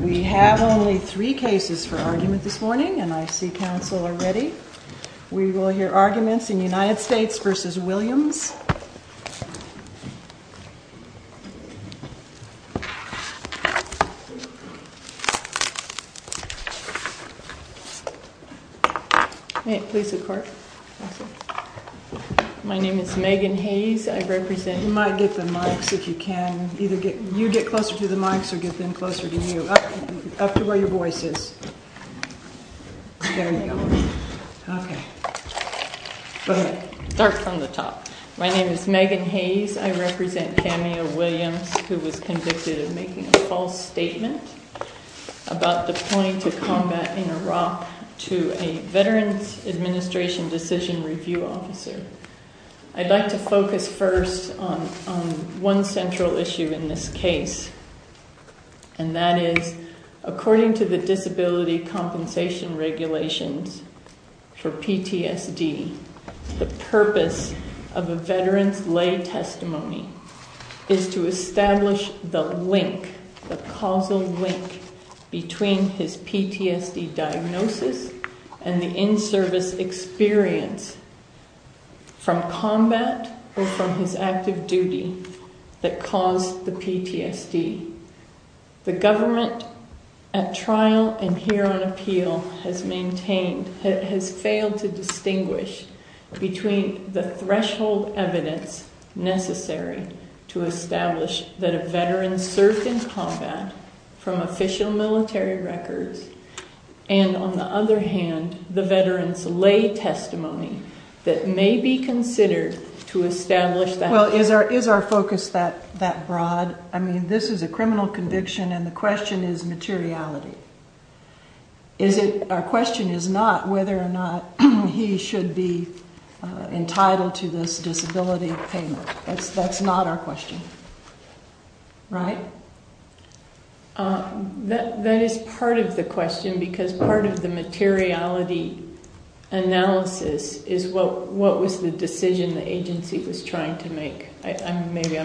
We have only three cases for argument this morning, and I see counsel are ready. We will hear arguments in United States v. Williams. My name is Megan Hayes. I represent... You might get the mics if you can. Either you get closer to the mics or get them closer to you, up to where your voice is. There you go. Okay. Go ahead. All right. Start from the top. My name is Megan Hayes. I represent Camille Williams, who was convicted of making a false statement about the point of combat in Iraq to a Veterans Administration decision review officer. I'd like to focus first on one central issue in this case, and that is, according to the purpose of a veteran's lay testimony is to establish the link, the causal link, between his PTSD diagnosis and the in-service experience from combat or from his active duty that caused the PTSD. The government at trial and here on appeal has maintained, has failed to distinguish between the threshold evidence necessary to establish that a veteran served in combat from official military records, and on the other hand, the veteran's lay testimony that may be considered to establish that. Well, is our focus that broad? I mean, this is a criminal conviction, and the question is materiality. Is it, our question is not whether or not he should be entitled to this disability payment. That's not our question. Right? That is part of the question, because part of the materiality analysis is what was the decision the agency was trying to make.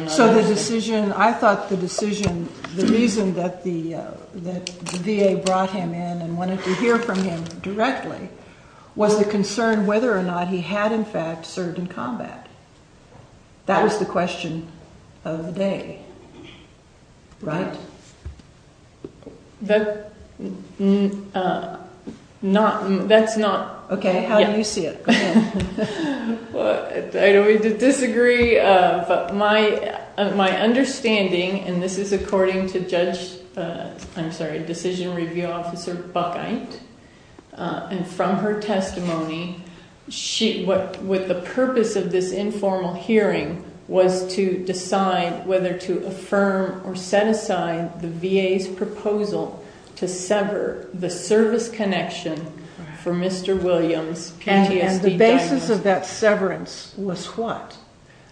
So the decision, I thought the decision, the reason that the VA brought him in and wanted to hear from him directly was the concern whether or not he had in fact served in combat. That was the question of the day. Right? That's not. Okay, how do you see it? I don't mean to disagree, but my understanding, and this is according to Judge, I'm sorry, Decision Review Officer Buckeit, and from her testimony, what the purpose of this informal hearing was to decide whether to affirm or set aside the VA's proposal to sever the service connection for Mr. Williams. And the basis of that severance was what?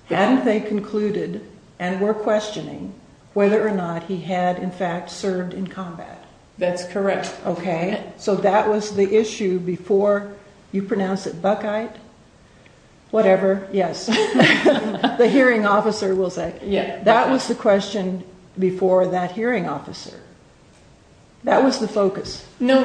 Hadn't they concluded and were questioning whether or not he had in fact served in combat? That's correct. Okay, so that was the issue before, you pronounce it Buckeit? Whatever, yes. The hearing officer will say. That was the question before that hearing officer. That was the focus. No,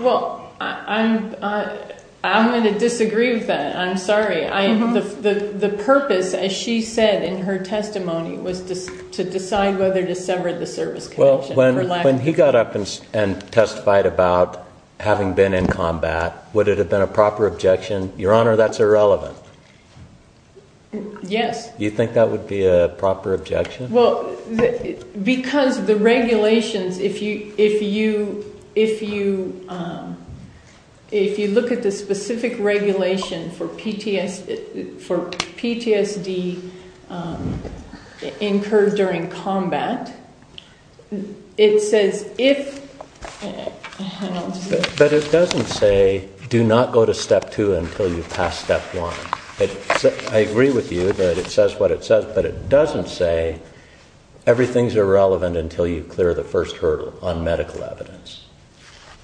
well, I'm going to disagree with that. I'm sorry. The purpose, as she said in her testimony, was to decide whether to sever the service connection. When he got up and testified about having been in combat, would it have been a proper objection? Your Honor, that's irrelevant. Yes. You think that would be a proper objection? Well, because the regulations, if you look at the specific regulation for PTSD incurred during combat, it says if, and I'll just. But it doesn't say do not go to step two until you've passed step one. I agree with you that it says what it says, but it doesn't say everything's irrelevant until you clear the first hurdle on medical evidence.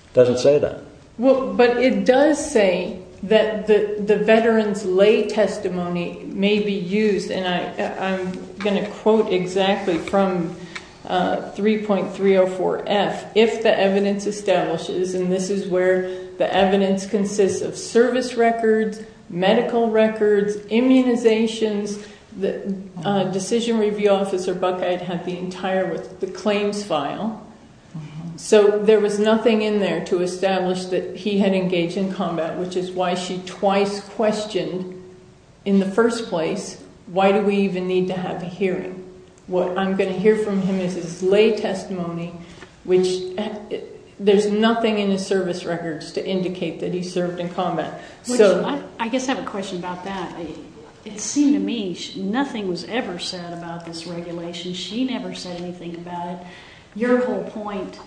It doesn't say that. Well, but it does say that the veteran's lay testimony may be used, and I'm going to quote exactly from 3.304F, if the evidence establishes, and this is where the evidence consists of service records, medical records, immunizations. The decision review officer, Buckeye, had the entire claims file. So there was nothing in there to establish that he had engaged in combat, which is why she twice questioned in the first place, why do we even need to have a hearing? What I'm going to hear from him is his lay testimony, which there's nothing in his service records to indicate that he served in combat. I guess I have a question about that. It seemed to me nothing was ever said about this regulation. She never said anything about it. Your whole point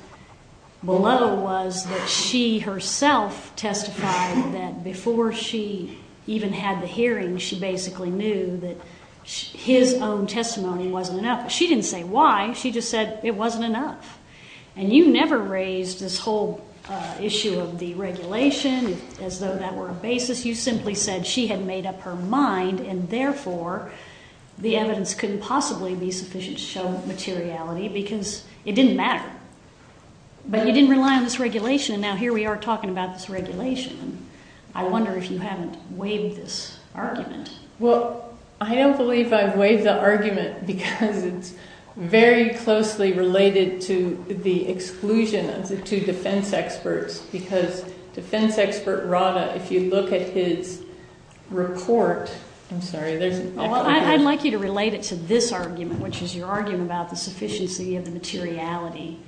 below was that she herself testified that before she even had the hearing, she basically knew that his own testimony wasn't enough. She didn't say why. She just said it wasn't enough. And you never raised this whole issue of deregulation as though that were a basis. You simply said she had made up her mind, and therefore the evidence couldn't possibly be sufficient to show materiality because it didn't matter. But you didn't rely on this regulation, and now here we are talking about this regulation. I wonder if you haven't waived this argument. Well, I don't believe I've waived the argument because it's very closely related to the exclusion of the two defense experts because defense expert Rada, if you look at his report, I'm sorry, there's a lot of- I'd like you to relate it to this argument, which is your argument about the sufficiency of the materiality.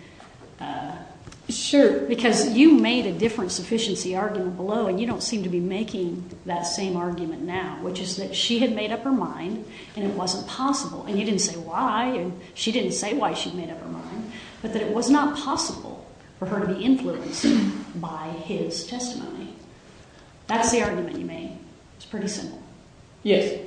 Sure. Because you made a different sufficiency argument below, and you don't seem to be making that same argument now, which is that she had made up her mind, and it wasn't possible. And you didn't say why, and she didn't say why she'd made up her mind, but that it was not possible for her to be influenced by his testimony. That's the argument you made. It's pretty simple. Yes.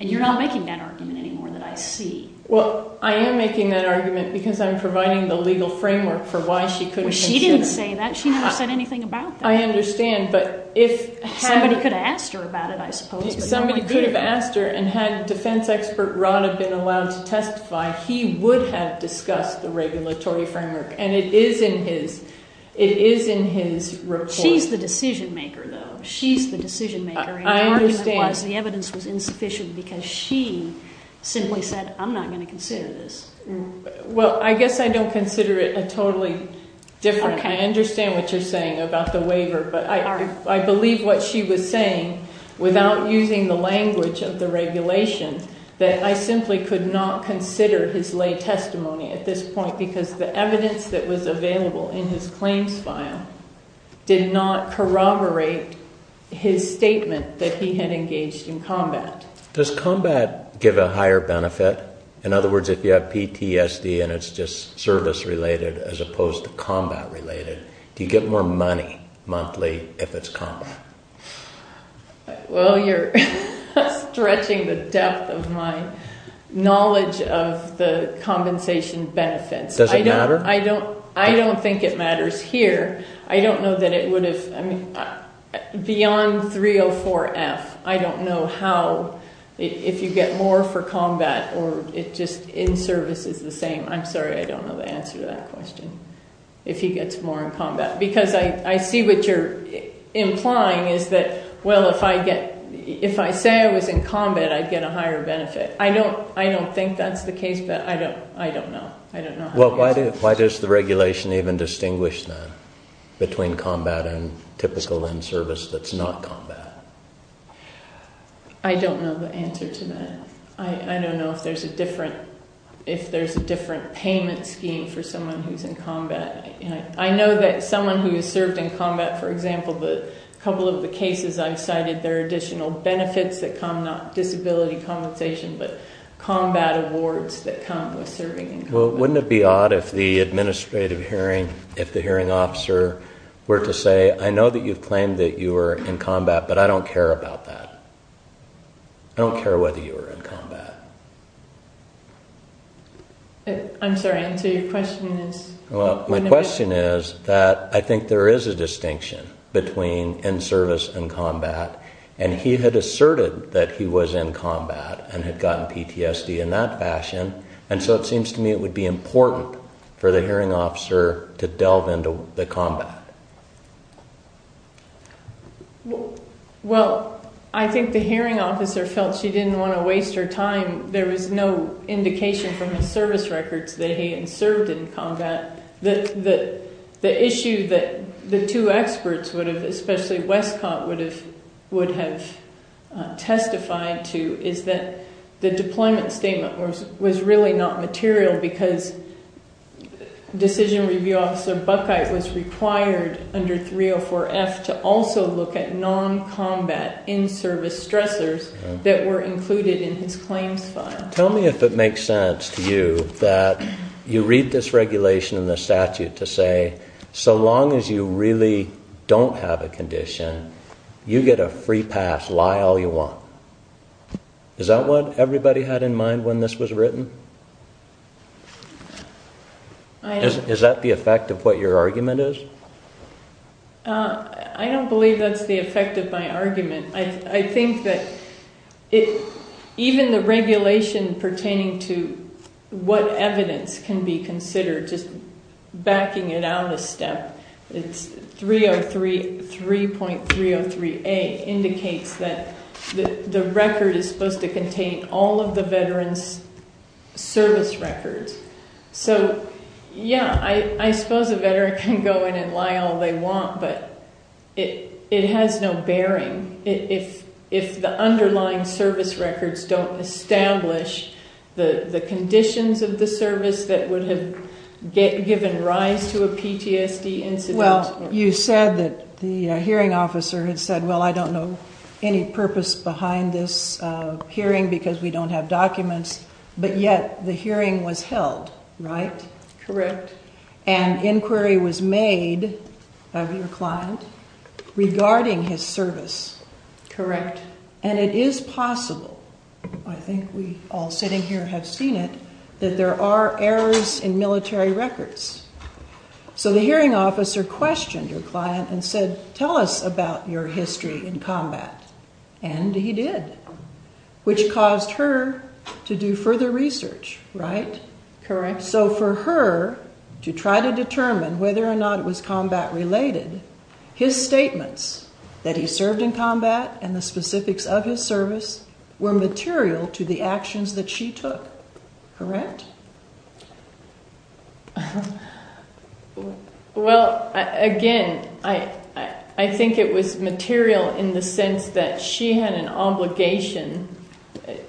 And you're not making that argument anymore that I see. Well, I am making that argument because I'm providing the legal framework for why she couldn't- Well, she didn't say that. She never said anything about that. I understand, but if- Somebody could have asked her about it, I suppose. Somebody could have asked her, and had defense expert Rada been allowed to testify, he would have discussed the regulatory framework, and it is in his report. She's the decision-maker, though. She's the decision-maker, and the argument was the evidence was insufficient because she simply said, I'm not going to consider this. Well, I guess I don't consider it a totally different- Okay. I understand what you're saying about the waiver, but I believe what she was saying, without using the language of the regulation, that I simply could not consider his lay testimony at this point because the evidence that was available in his claims file did not corroborate his statement that he had engaged in combat. Does combat give a higher benefit? In other words, if you have PTSD and it's just service-related as opposed to combat-related, do you get more money monthly if it's combat? Well, you're stretching the depth of my knowledge of the compensation benefits. Does it matter? I don't think it matters here. I don't know that it would have- Beyond 304F, I don't know how-if you get more for combat or it just-in service is the same. I'm sorry, I don't know the answer to that question, if he gets more in combat, because I see what you're implying is that, well, if I say I was in combat, I'd get a higher benefit. I don't think that's the case, but I don't know. Well, why does the regulation even distinguish then between combat and typical in service that's not combat? I don't know the answer to that. I don't know if there's a different payment scheme for someone who's in combat. I know that someone who has served in combat, for example, the couple of the cases I've cited, there are additional benefits that come, not disability compensation, but combat awards that come with serving in combat. Well, wouldn't it be odd if the administrative hearing, if the hearing officer were to say, I know that you've claimed that you were in combat, but I don't care about that. I don't care whether you were in combat. I'm sorry, and so your question is- Well, my question is that I think there is a distinction between in service and combat, and he had asserted that he was in combat and had gotten PTSD in that fashion, and so it seems to me it would be important for the hearing officer to delve into the combat. Well, I think the hearing officer felt she didn't want to waste her time. There was no indication from his service records that he had served in combat. The issue that the two experts, especially Westcott, would have testified to is that the deployment statement was really not material because decision review officer Buckeye was required under 304F to also look at non-combat in-service stressors that were included in his claims file. Tell me if it makes sense to you that you read this regulation in the statute to say, so long as you really don't have a condition, you get a free pass, lie all you want. Is that what everybody had in mind when this was written? Is that the effect of what your argument is? I don't believe that's the effect of my argument. I think that even the regulation pertaining to what evidence can be considered, just backing it out a step, it's 303.303A indicates that the record is supposed to contain all of the veteran's service records. So, yeah, I suppose a veteran can go in and lie all they want, but it has no bearing. If the underlying service records don't establish the conditions of the service that would have given rise to a PTSD incident. Well, you said that the hearing officer had said, well, I don't know any purpose behind this hearing because we don't have documents, but yet the hearing was held, right? Correct. And inquiry was made of your client regarding his service. Correct. And it is possible, I think we all sitting here have seen it, that there are errors in military records. So the hearing officer questioned your client and said, tell us about your history in combat, and he did, which caused her to do further research, right? Correct. And so for her to try to determine whether or not it was combat related, his statements that he served in combat and the specifics of his service were material to the actions that she took. Correct? Well, again, I think it was material in the sense that she had an obligation,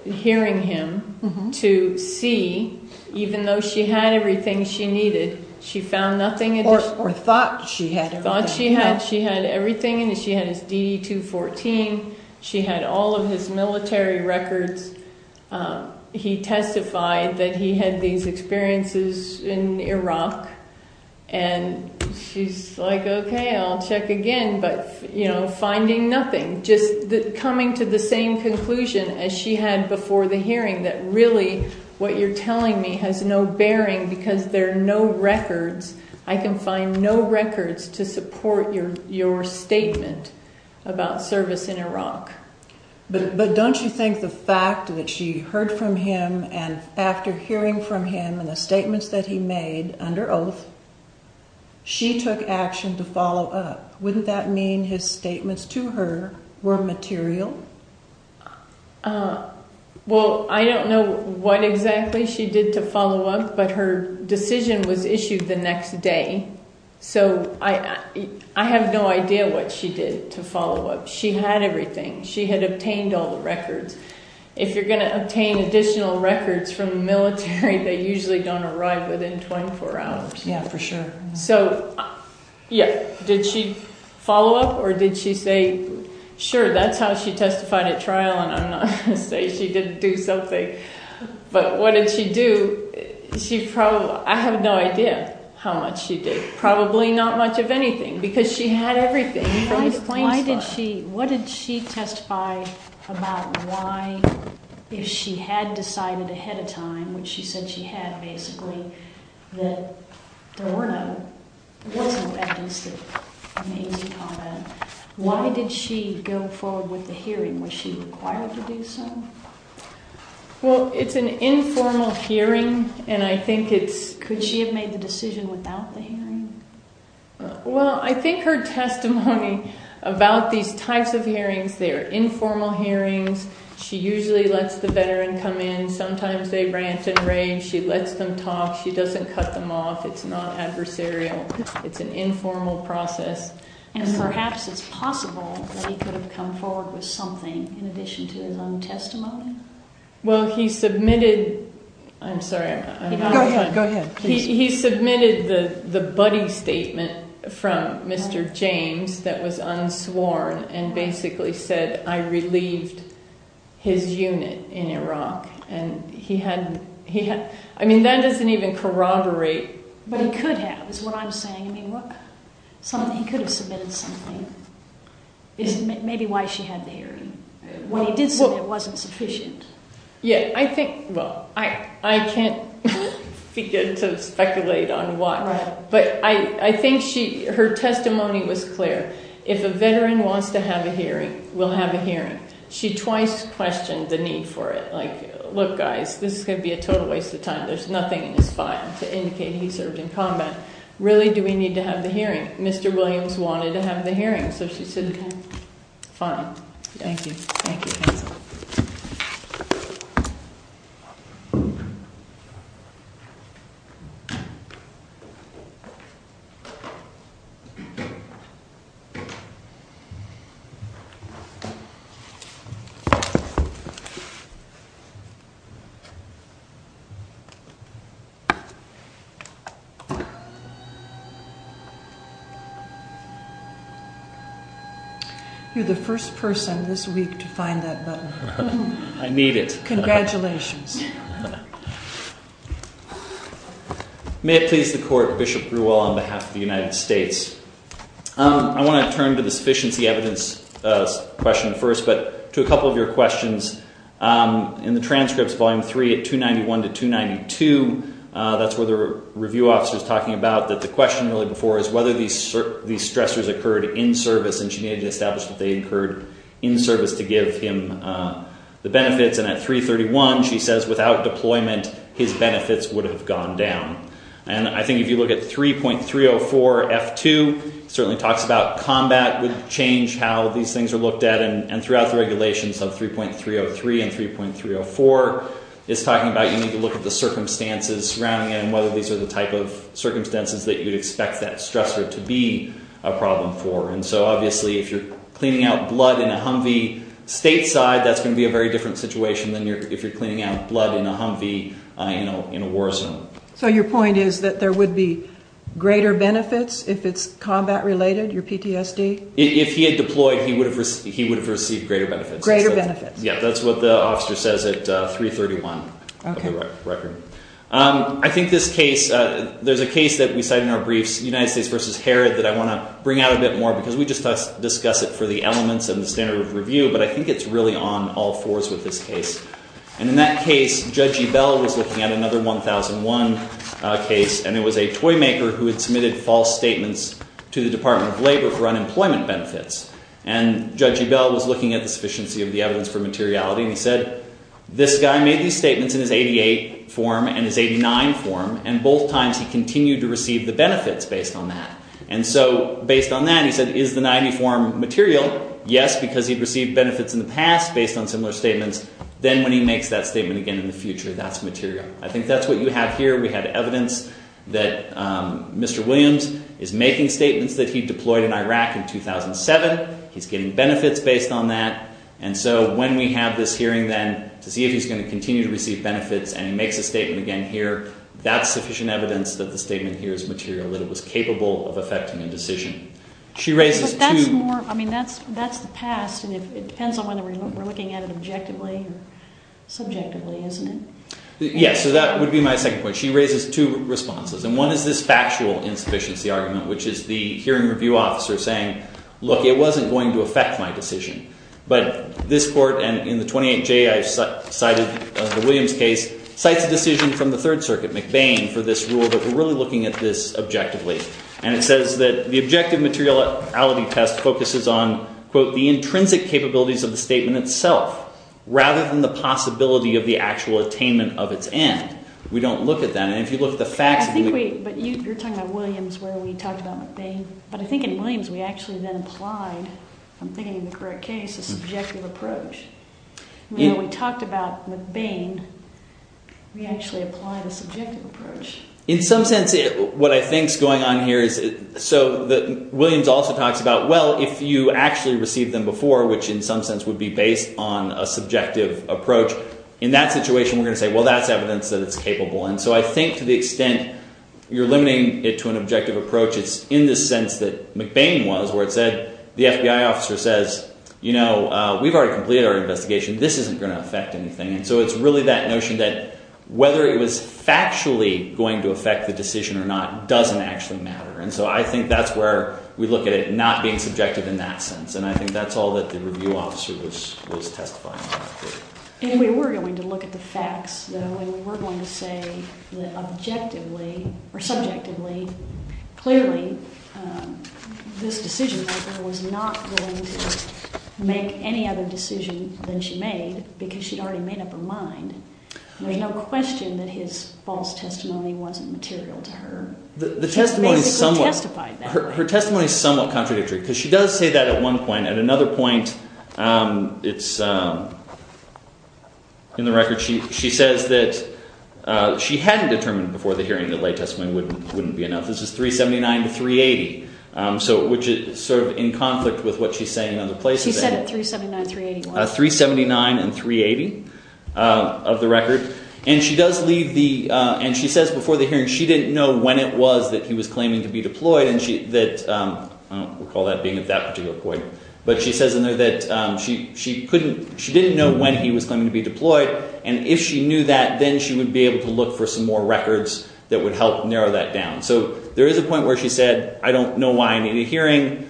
hearing him, to see, even though she had everything she needed, she found nothing. Or thought she had everything. Thought she had. She had everything. She had his DD-214. She had all of his military records. He testified that he had these experiences in Iraq, and she's like, okay, I'll check again, but, you know, finding nothing. Just coming to the same conclusion as she had before the hearing, that really what you're telling me has no bearing because there are no records. I can find no records to support your statement about service in Iraq. But don't you think the fact that she heard from him, and after hearing from him and the statements that he made under oath, she took action to follow up. Wouldn't that mean his statements to her were material? Well, I don't know what exactly she did to follow up, but her decision was issued the next day. So I have no idea what she did to follow up. She had everything. She had obtained all the records. If you're going to obtain additional records from the military, they usually don't arrive within 24 hours. Yeah, for sure. So, yeah, did she follow up, or did she say, sure, that's how she testified at trial, and I'm not going to say she didn't do something. But what did she do? I have no idea how much she did, probably not much of anything, because she had everything from the claims file. What did she testify about why, if she had decided ahead of time, which she said she had, basically, that there wasn't at least an easy comment, why did she go forward with the hearing? Was she required to do so? Well, it's an informal hearing, and I think it's – Could she have made the decision without the hearing? Well, I think her testimony about these types of hearings, they're informal hearings. She usually lets the veteran come in. Sometimes they rant and rage. She lets them talk. She doesn't cut them off. It's not adversarial. It's an informal process. And perhaps it's possible that he could have come forward with something in addition to his own testimony? Well, he submitted – I'm sorry, I'm out of time. Go ahead. He submitted the buddy statement from Mr. James that was unsworn and basically said, I relieved his unit in Iraq. And he had – I mean, that doesn't even corroborate. But he could have is what I'm saying. I mean, he could have submitted something. Maybe why she had the hearing. What he did submit wasn't sufficient. Yeah, I think – well, I can't begin to speculate on why. But I think her testimony was clear. If a veteran wants to have a hearing, we'll have a hearing. She twice questioned the need for it. Like, look, guys, this is going to be a total waste of time. There's nothing in his file to indicate he served in combat. Really, do we need to have the hearing? Mr. Williams wanted to have the hearing, so she said, fine. Thank you. Thank you, counsel. Thank you. You're the first person this week to find that button. Congratulations. May it please the court, Bishop Grewal, on behalf of the United States. I want to turn to the sufficiency evidence question first, but to a couple of your questions. In the transcripts, Volume 3, at 291 to 292, that's where the review officer is talking about, that the question really before is whether these stressors occurred in service, and she needed to establish that they occurred in service to give him the benefits. And at 331, she says, without deployment, his benefits would have gone down. And I think if you look at 3.304F2, it certainly talks about combat would change how these things are looked at. And throughout the regulations of 3.303 and 3.304, it's talking about you need to look at the circumstances surrounding it and whether these are the type of circumstances that you'd expect that stressor to be a problem for. And so obviously, if you're cleaning out blood in a Humvee stateside, that's going to be a very different situation than if you're cleaning out blood in a Humvee in a war zone. So your point is that there would be greater benefits if it's combat-related, your PTSD? If he had deployed, he would have received greater benefits. Greater benefits. Yeah, that's what the officer says at 3.31 of the record. I think this case, there's a case that we cite in our briefs, United States v. Herod, that I want to bring out a bit more because we just discussed it for the elements and the standard of review, but I think it's really on all fours with this case. And in that case, Judge Ebell was looking at another 1001 case, and it was a toy maker who had submitted false statements to the Department of Labor for unemployment benefits. And Judge Ebell was looking at the sufficiency of the evidence for materiality, and he said, this guy made these statements in his 88 form and his 89 form, and both times he continued to receive the benefits based on that. And so based on that, he said, is the 90 form material? Yes, because he'd received benefits in the past based on similar statements. Then when he makes that statement again in the future, that's material. I think that's what you have here. We have evidence that Mr. Williams is making statements that he deployed in Iraq in 2007. He's getting benefits based on that. And so when we have this hearing then to see if he's going to continue to receive benefits, and he makes a statement again here, that's sufficient evidence that the statement here is material, that it was capable of affecting a decision. She raises two. But that's more, I mean, that's the past, and it depends on whether we're looking at it objectively or subjectively, isn't it? Yes, so that would be my second point. She raises two responses, and one is this factual insufficiency argument, which is the hearing review officer saying, look, it wasn't going to affect my decision. But this court, and in the 28J I cited, the Williams case, cites a decision from the Third Circuit, McBain, for this rule, that we're really looking at this objectively. And it says that the objective materiality test focuses on, quote, the intrinsic capabilities of the statement itself rather than the possibility of the actual attainment of its end. We don't look at that. And if you look at the facts of it. I think we, but you're talking about Williams where we talked about McBain. But I think in Williams we actually then applied, if I'm thinking in the correct case, a subjective approach. When we talked about McBain, we actually applied a subjective approach. In some sense, what I think is going on here is, so Williams also talks about, well, if you actually received them before, which in some sense would be based on a subjective approach, in that situation we're going to say, well, that's evidence that it's capable. And so I think to the extent you're limiting it to an objective approach, it's in the sense that McBain was, where it said the FBI officer says, you know, we've already completed our investigation. This isn't going to affect anything. And so it's really that notion that whether it was factually going to affect the decision or not doesn't actually matter. And so I think that's where we look at it not being subjective in that sense. And I think that's all that the review officer was testifying to. And we were going to look at the facts, though, and we were going to say that objectively or subjectively, clearly this decisionmaker was not going to make any other decision than she made because she'd already made up her mind. There's no question that his false testimony wasn't material to her. The testimony is somewhat – He basically testified that. Her testimony is somewhat contradictory because she does say that at one point. At another point, it's in the record, she says that she hadn't determined before the hearing that lay testimony wouldn't be enough. This is 379 to 380, which is sort of in conflict with what she's saying in other places. She said it 379, 380 was. 379 and 380 of the record. And she does leave the – and she says before the hearing she didn't know when it was that he was claiming to be deployed. I don't recall that being at that particular point. But she says in there that she couldn't – she didn't know when he was claiming to be deployed. And if she knew that, then she would be able to look for some more records that would help narrow that down. So there is a point where she said, I don't know why I need a hearing. It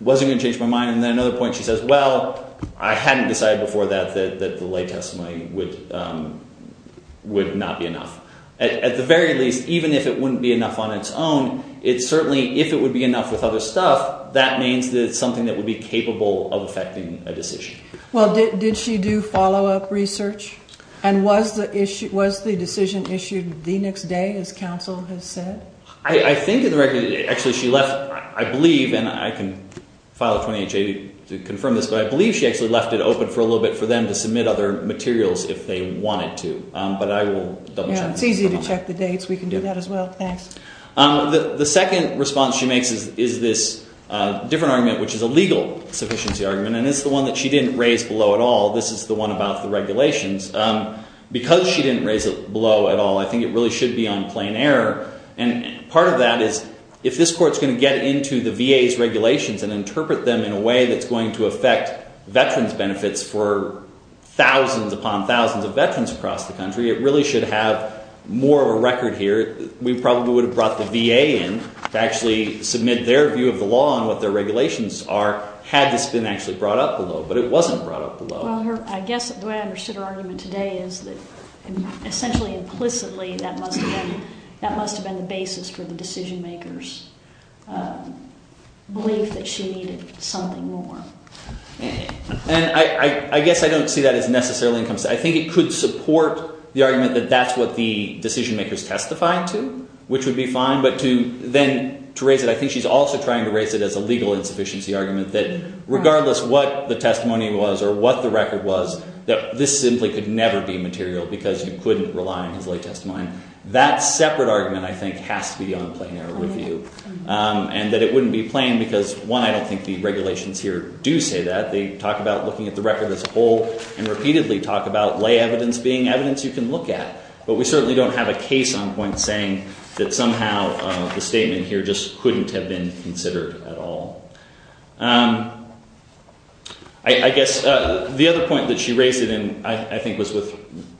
wasn't going to change my mind. And then at another point she says, well, I hadn't decided before that that the lay testimony would not be enough. At the very least, even if it wouldn't be enough on its own, it certainly – if it would be enough with other stuff, that means that it's something that would be capable of affecting a decision. Well, did she do follow-up research? And was the decision issued the next day, as counsel has said? I think in the record – actually, she left – I believe, and I can file a 28-J to confirm this, but I believe she actually left it open for a little bit for them to submit other materials if they wanted to. But I will – It's easy to check the dates. We can do that as well. Thanks. The second response she makes is this different argument, which is a legal sufficiency argument. And it's the one that she didn't raise below at all. This is the one about the regulations. Because she didn't raise it below at all, I think it really should be on plain error. And part of that is if this court is going to get into the VA's regulations and interpret them in a way that's going to affect veterans' benefits for thousands upon thousands of veterans across the country, it really should have more of a record here. We probably would have brought the VA in to actually submit their view of the law and what their regulations are had this been actually brought up below. But it wasn't brought up below. Well, I guess the way I understood her argument today is that essentially, implicitly, that must have been the basis for the decision-maker's belief that she needed something more. And I guess I don't see that as necessarily implicit. I think it could support the argument that that's what the decision-maker is testifying to, which would be fine. But to then – to raise it, I think she's also trying to raise it as a legal insufficiency argument, that regardless what the testimony was or what the record was, that this simply could never be material because you couldn't rely on his lay testimony. That separate argument, I think, has to be on plain error review. And that it wouldn't be plain because, one, I don't think the regulations here do say that. They talk about looking at the record as a whole and repeatedly talk about lay evidence being evidence you can look at. But we certainly don't have a case on point saying that somehow the statement here just couldn't have been considered at all. I guess the other point that she raised, and I think was with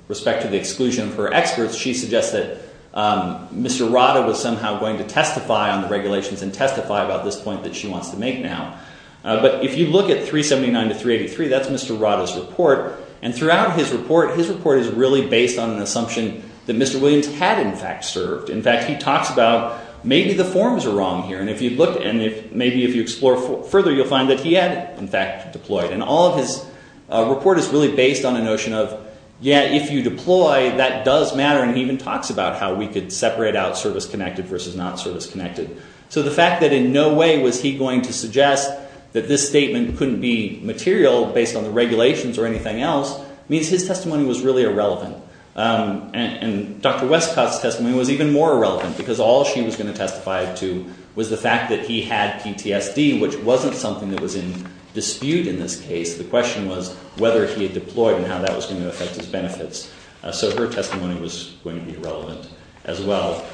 respect to the exclusion of her experts, she suggests that Mr. Rada was somehow going to testify on the regulations and testify about this point that she wants to make now. But if you look at 379 to 383, that's Mr. Rada's report. And throughout his report, his report is really based on an assumption that Mr. Williams had in fact served. In fact, he talks about maybe the forms are wrong here. And maybe if you explore further, you'll find that he had in fact deployed. And all of his report is really based on a notion of, yeah, if you deploy, that does matter. And he even talks about how we could separate out service-connected versus not service-connected. So the fact that in no way was he going to suggest that this statement couldn't be material based on the regulations or anything else means his testimony was really irrelevant. And Dr. Westcott's testimony was even more irrelevant because all she was going to testify to was the fact that he had PTSD, which wasn't something that was in dispute in this case. The question was whether he had deployed and how that was going to affect his benefits. So her testimony was going to be relevant as well.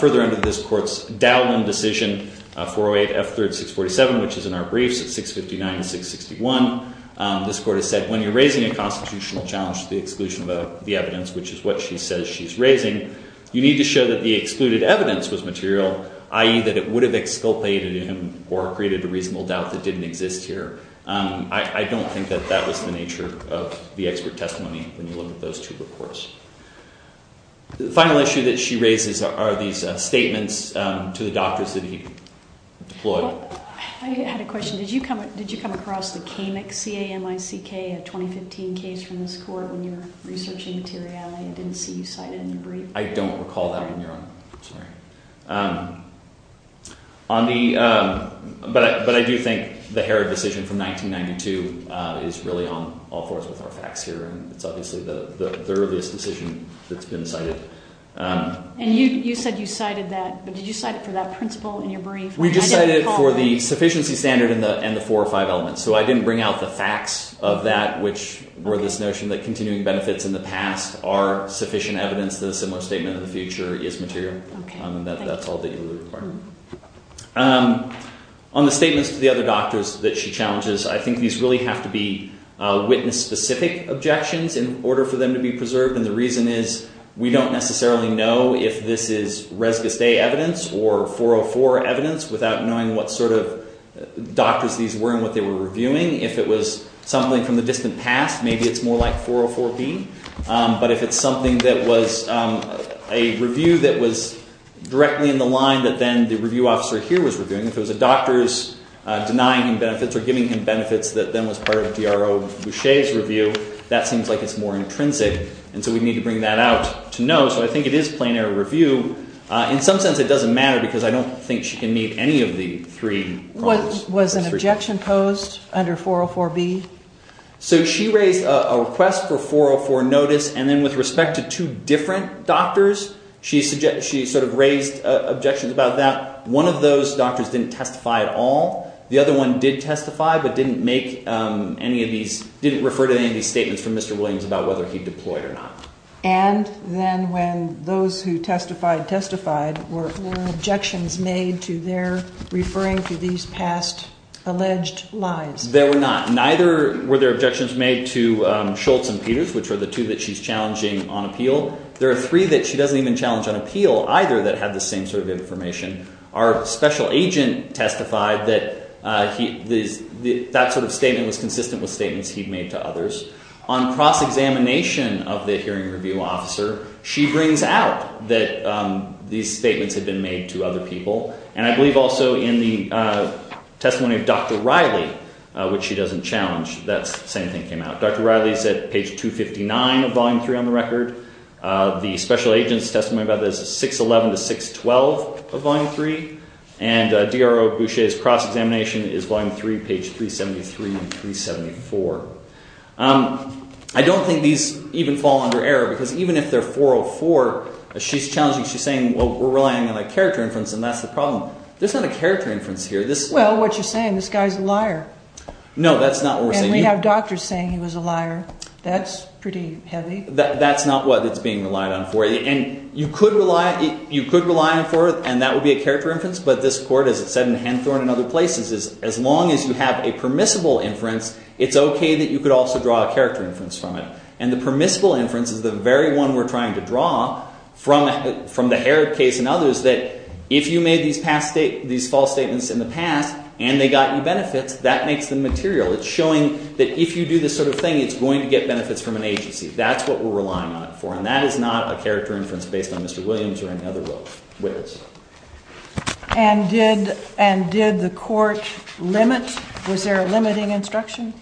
Further into this court's Dowland decision, 408 F3rd 647, which is in our briefs at 659 to 661, this court has said when you're raising a constitutional challenge to the exclusion of the evidence, which is what she says she's raising, you need to show that the excluded evidence was material, i.e. that it would have exculpated him or created a reasonable doubt that didn't exist here. I don't think that that was the nature of the expert testimony when you look at those two reports. The final issue that she raises are these statements to the doctors that he deployed. Well, I had a question. Did you come across the Kamik, C-A-M-I-C-K, a 2015 case from this court when you were researching materiality? I didn't see you cite it in your brief. I don't recall that on your own. I'm sorry. But I do think the Herod decision from 1992 is really on all fours with our facts here, and it's obviously the earliest decision that's been cited. And you said you cited that, but did you cite it for that principle in your brief? We just cited it for the sufficiency standard and the four or five elements. So I didn't bring out the facts of that, which were this notion that continuing benefits in the past are sufficient evidence that a similar statement in the future is material. And that's all that you would require. On the statements to the other doctors that she challenges, I think these really have to be witness-specific objections in order for them to be preserved, and the reason is we don't necessarily know if this is Res Guste evidence or 404 evidence without knowing what sort of doctors these were and what they were reviewing. If it was something from the distant past, maybe it's more like 404B. But if it's something that was a review that was directly in the line that then the review officer here was reviewing, if it was the doctors denying him benefits or giving him benefits that then was part of DRO Boucher's review, that seems like it's more intrinsic. And so we need to bring that out to know. So I think it is plain error review. In some sense it doesn't matter because I don't think she can meet any of the three problems. Was an objection posed under 404B? So she raised a request for 404 notice, and then with respect to two different doctors, she sort of raised objections about that. One of those doctors didn't testify at all. The other one did testify but didn't make any of these – didn't refer to any of these statements from Mr. Williams about whether he deployed or not. And then when those who testified testified, were there objections made to their referring to these past alleged lies? There were not. Neither were there objections made to Schultz and Peters, which were the two that she's challenging on appeal. There are three that she doesn't even challenge on appeal either that have the same sort of information. Our special agent testified that that sort of statement was consistent with statements he'd made to others. On cross-examination of the hearing review officer, she brings out that these statements had been made to other people. And I believe also in the testimony of Dr. Riley, which she doesn't challenge, that same thing came out. Dr. Riley's at page 259 of Volume 3 on the record. The special agent's testimony about this is 611 to 612 of Volume 3. And DRO Boucher's cross-examination is Volume 3, page 373 and 374. I don't think these even fall under error because even if they're 404, she's challenging – she's saying, well, we're relying on a character inference and that's the problem. There's not a character inference here. Well, what you're saying, this guy's a liar. No, that's not what we're saying. We have doctors saying he was a liar. That's pretty heavy. That's not what it's being relied on for. And you could rely – you could rely on – and that would be a character inference. But this court, as it said in Hanthorne and other places, is as long as you have a permissible inference, it's OK that you could also draw a character inference from it. And the permissible inference is the very one we're trying to draw from the Herod case and others that if you made these false statements in the past and they got you benefits, that makes them material. It's showing that if you do this sort of thing, it's going to get benefits from an agency. That's what we're relying on it for, and that is not a character inference based on Mr. Williams or any other witness. And did the court limit – was there a limiting instruction?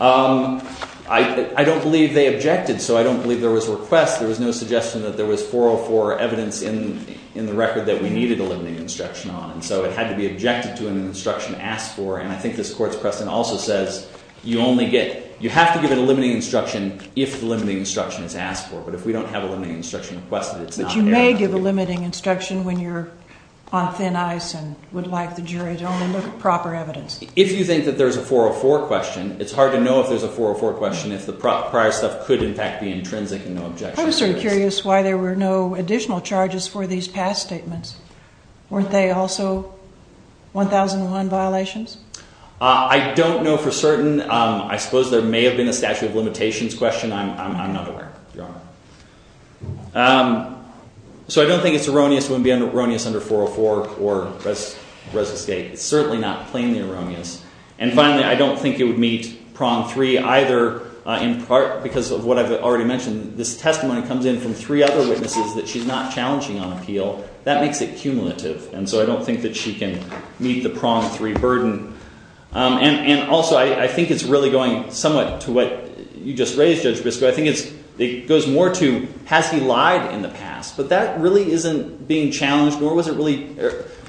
I don't believe they objected, so I don't believe there was a request. There was no suggestion that there was 404 evidence in the record that we needed a limiting instruction on. So it had to be objected to and an instruction asked for. And I think this court's precedent also says you only get – you have to give it a limiting instruction if the limiting instruction is asked for. But if we don't have a limiting instruction requested, it's not there. But you may give a limiting instruction when you're on thin ice and would like the jury to only look at proper evidence. If you think that there's a 404 question, it's hard to know if there's a 404 question if the prior stuff could, in fact, be intrinsic and no objection. I'm sort of curious why there were no additional charges for these past statements. Weren't they also 1001 violations? I don't know for certain. I suppose there may have been a statute of limitations question. I'm not aware, Your Honor. So I don't think it's erroneous to want to be erroneous under 404 or resuscitate. It's certainly not plainly erroneous. And finally, I don't think it would meet prong three either in part because of what I've already mentioned. This testimony comes in from three other witnesses that she's not challenging on appeal. That makes it cumulative, and so I don't think that she can meet the prong three burden. And also, I think it's really going somewhat to what you just raised, Judge Briscoe. I think it goes more to has he lied in the past? But that really isn't being challenged, nor was it really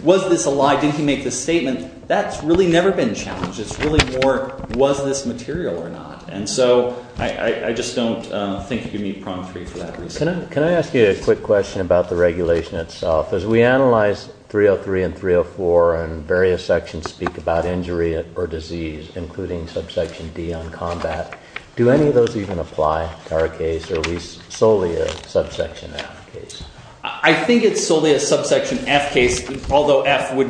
was this a lie? Didn't he make this statement? That's really never been challenged. It's really more was this material or not. And so I just don't think it could meet prong three for that reason. Can I ask you a quick question about the regulation itself? As we analyze 303 and 304 and various sections speak about injury or disease, including subsection D on combat, do any of those even apply to our case, or are we solely a subsection F case? I think it's solely a subsection F case, although F would,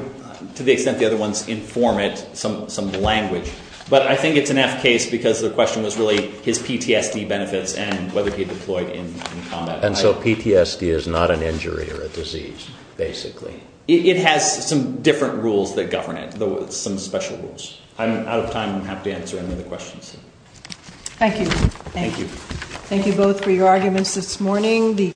to the extent the other ones inform it, some language. But I think it's an F case because the question was really his PTSD benefits and whether he deployed in combat. And so PTSD is not an injury or a disease, basically? It has some different rules that govern it, some special rules. I'm out of time. I'm happy to answer any other questions. Thank you. Thank you. Thank you both for your arguments this morning.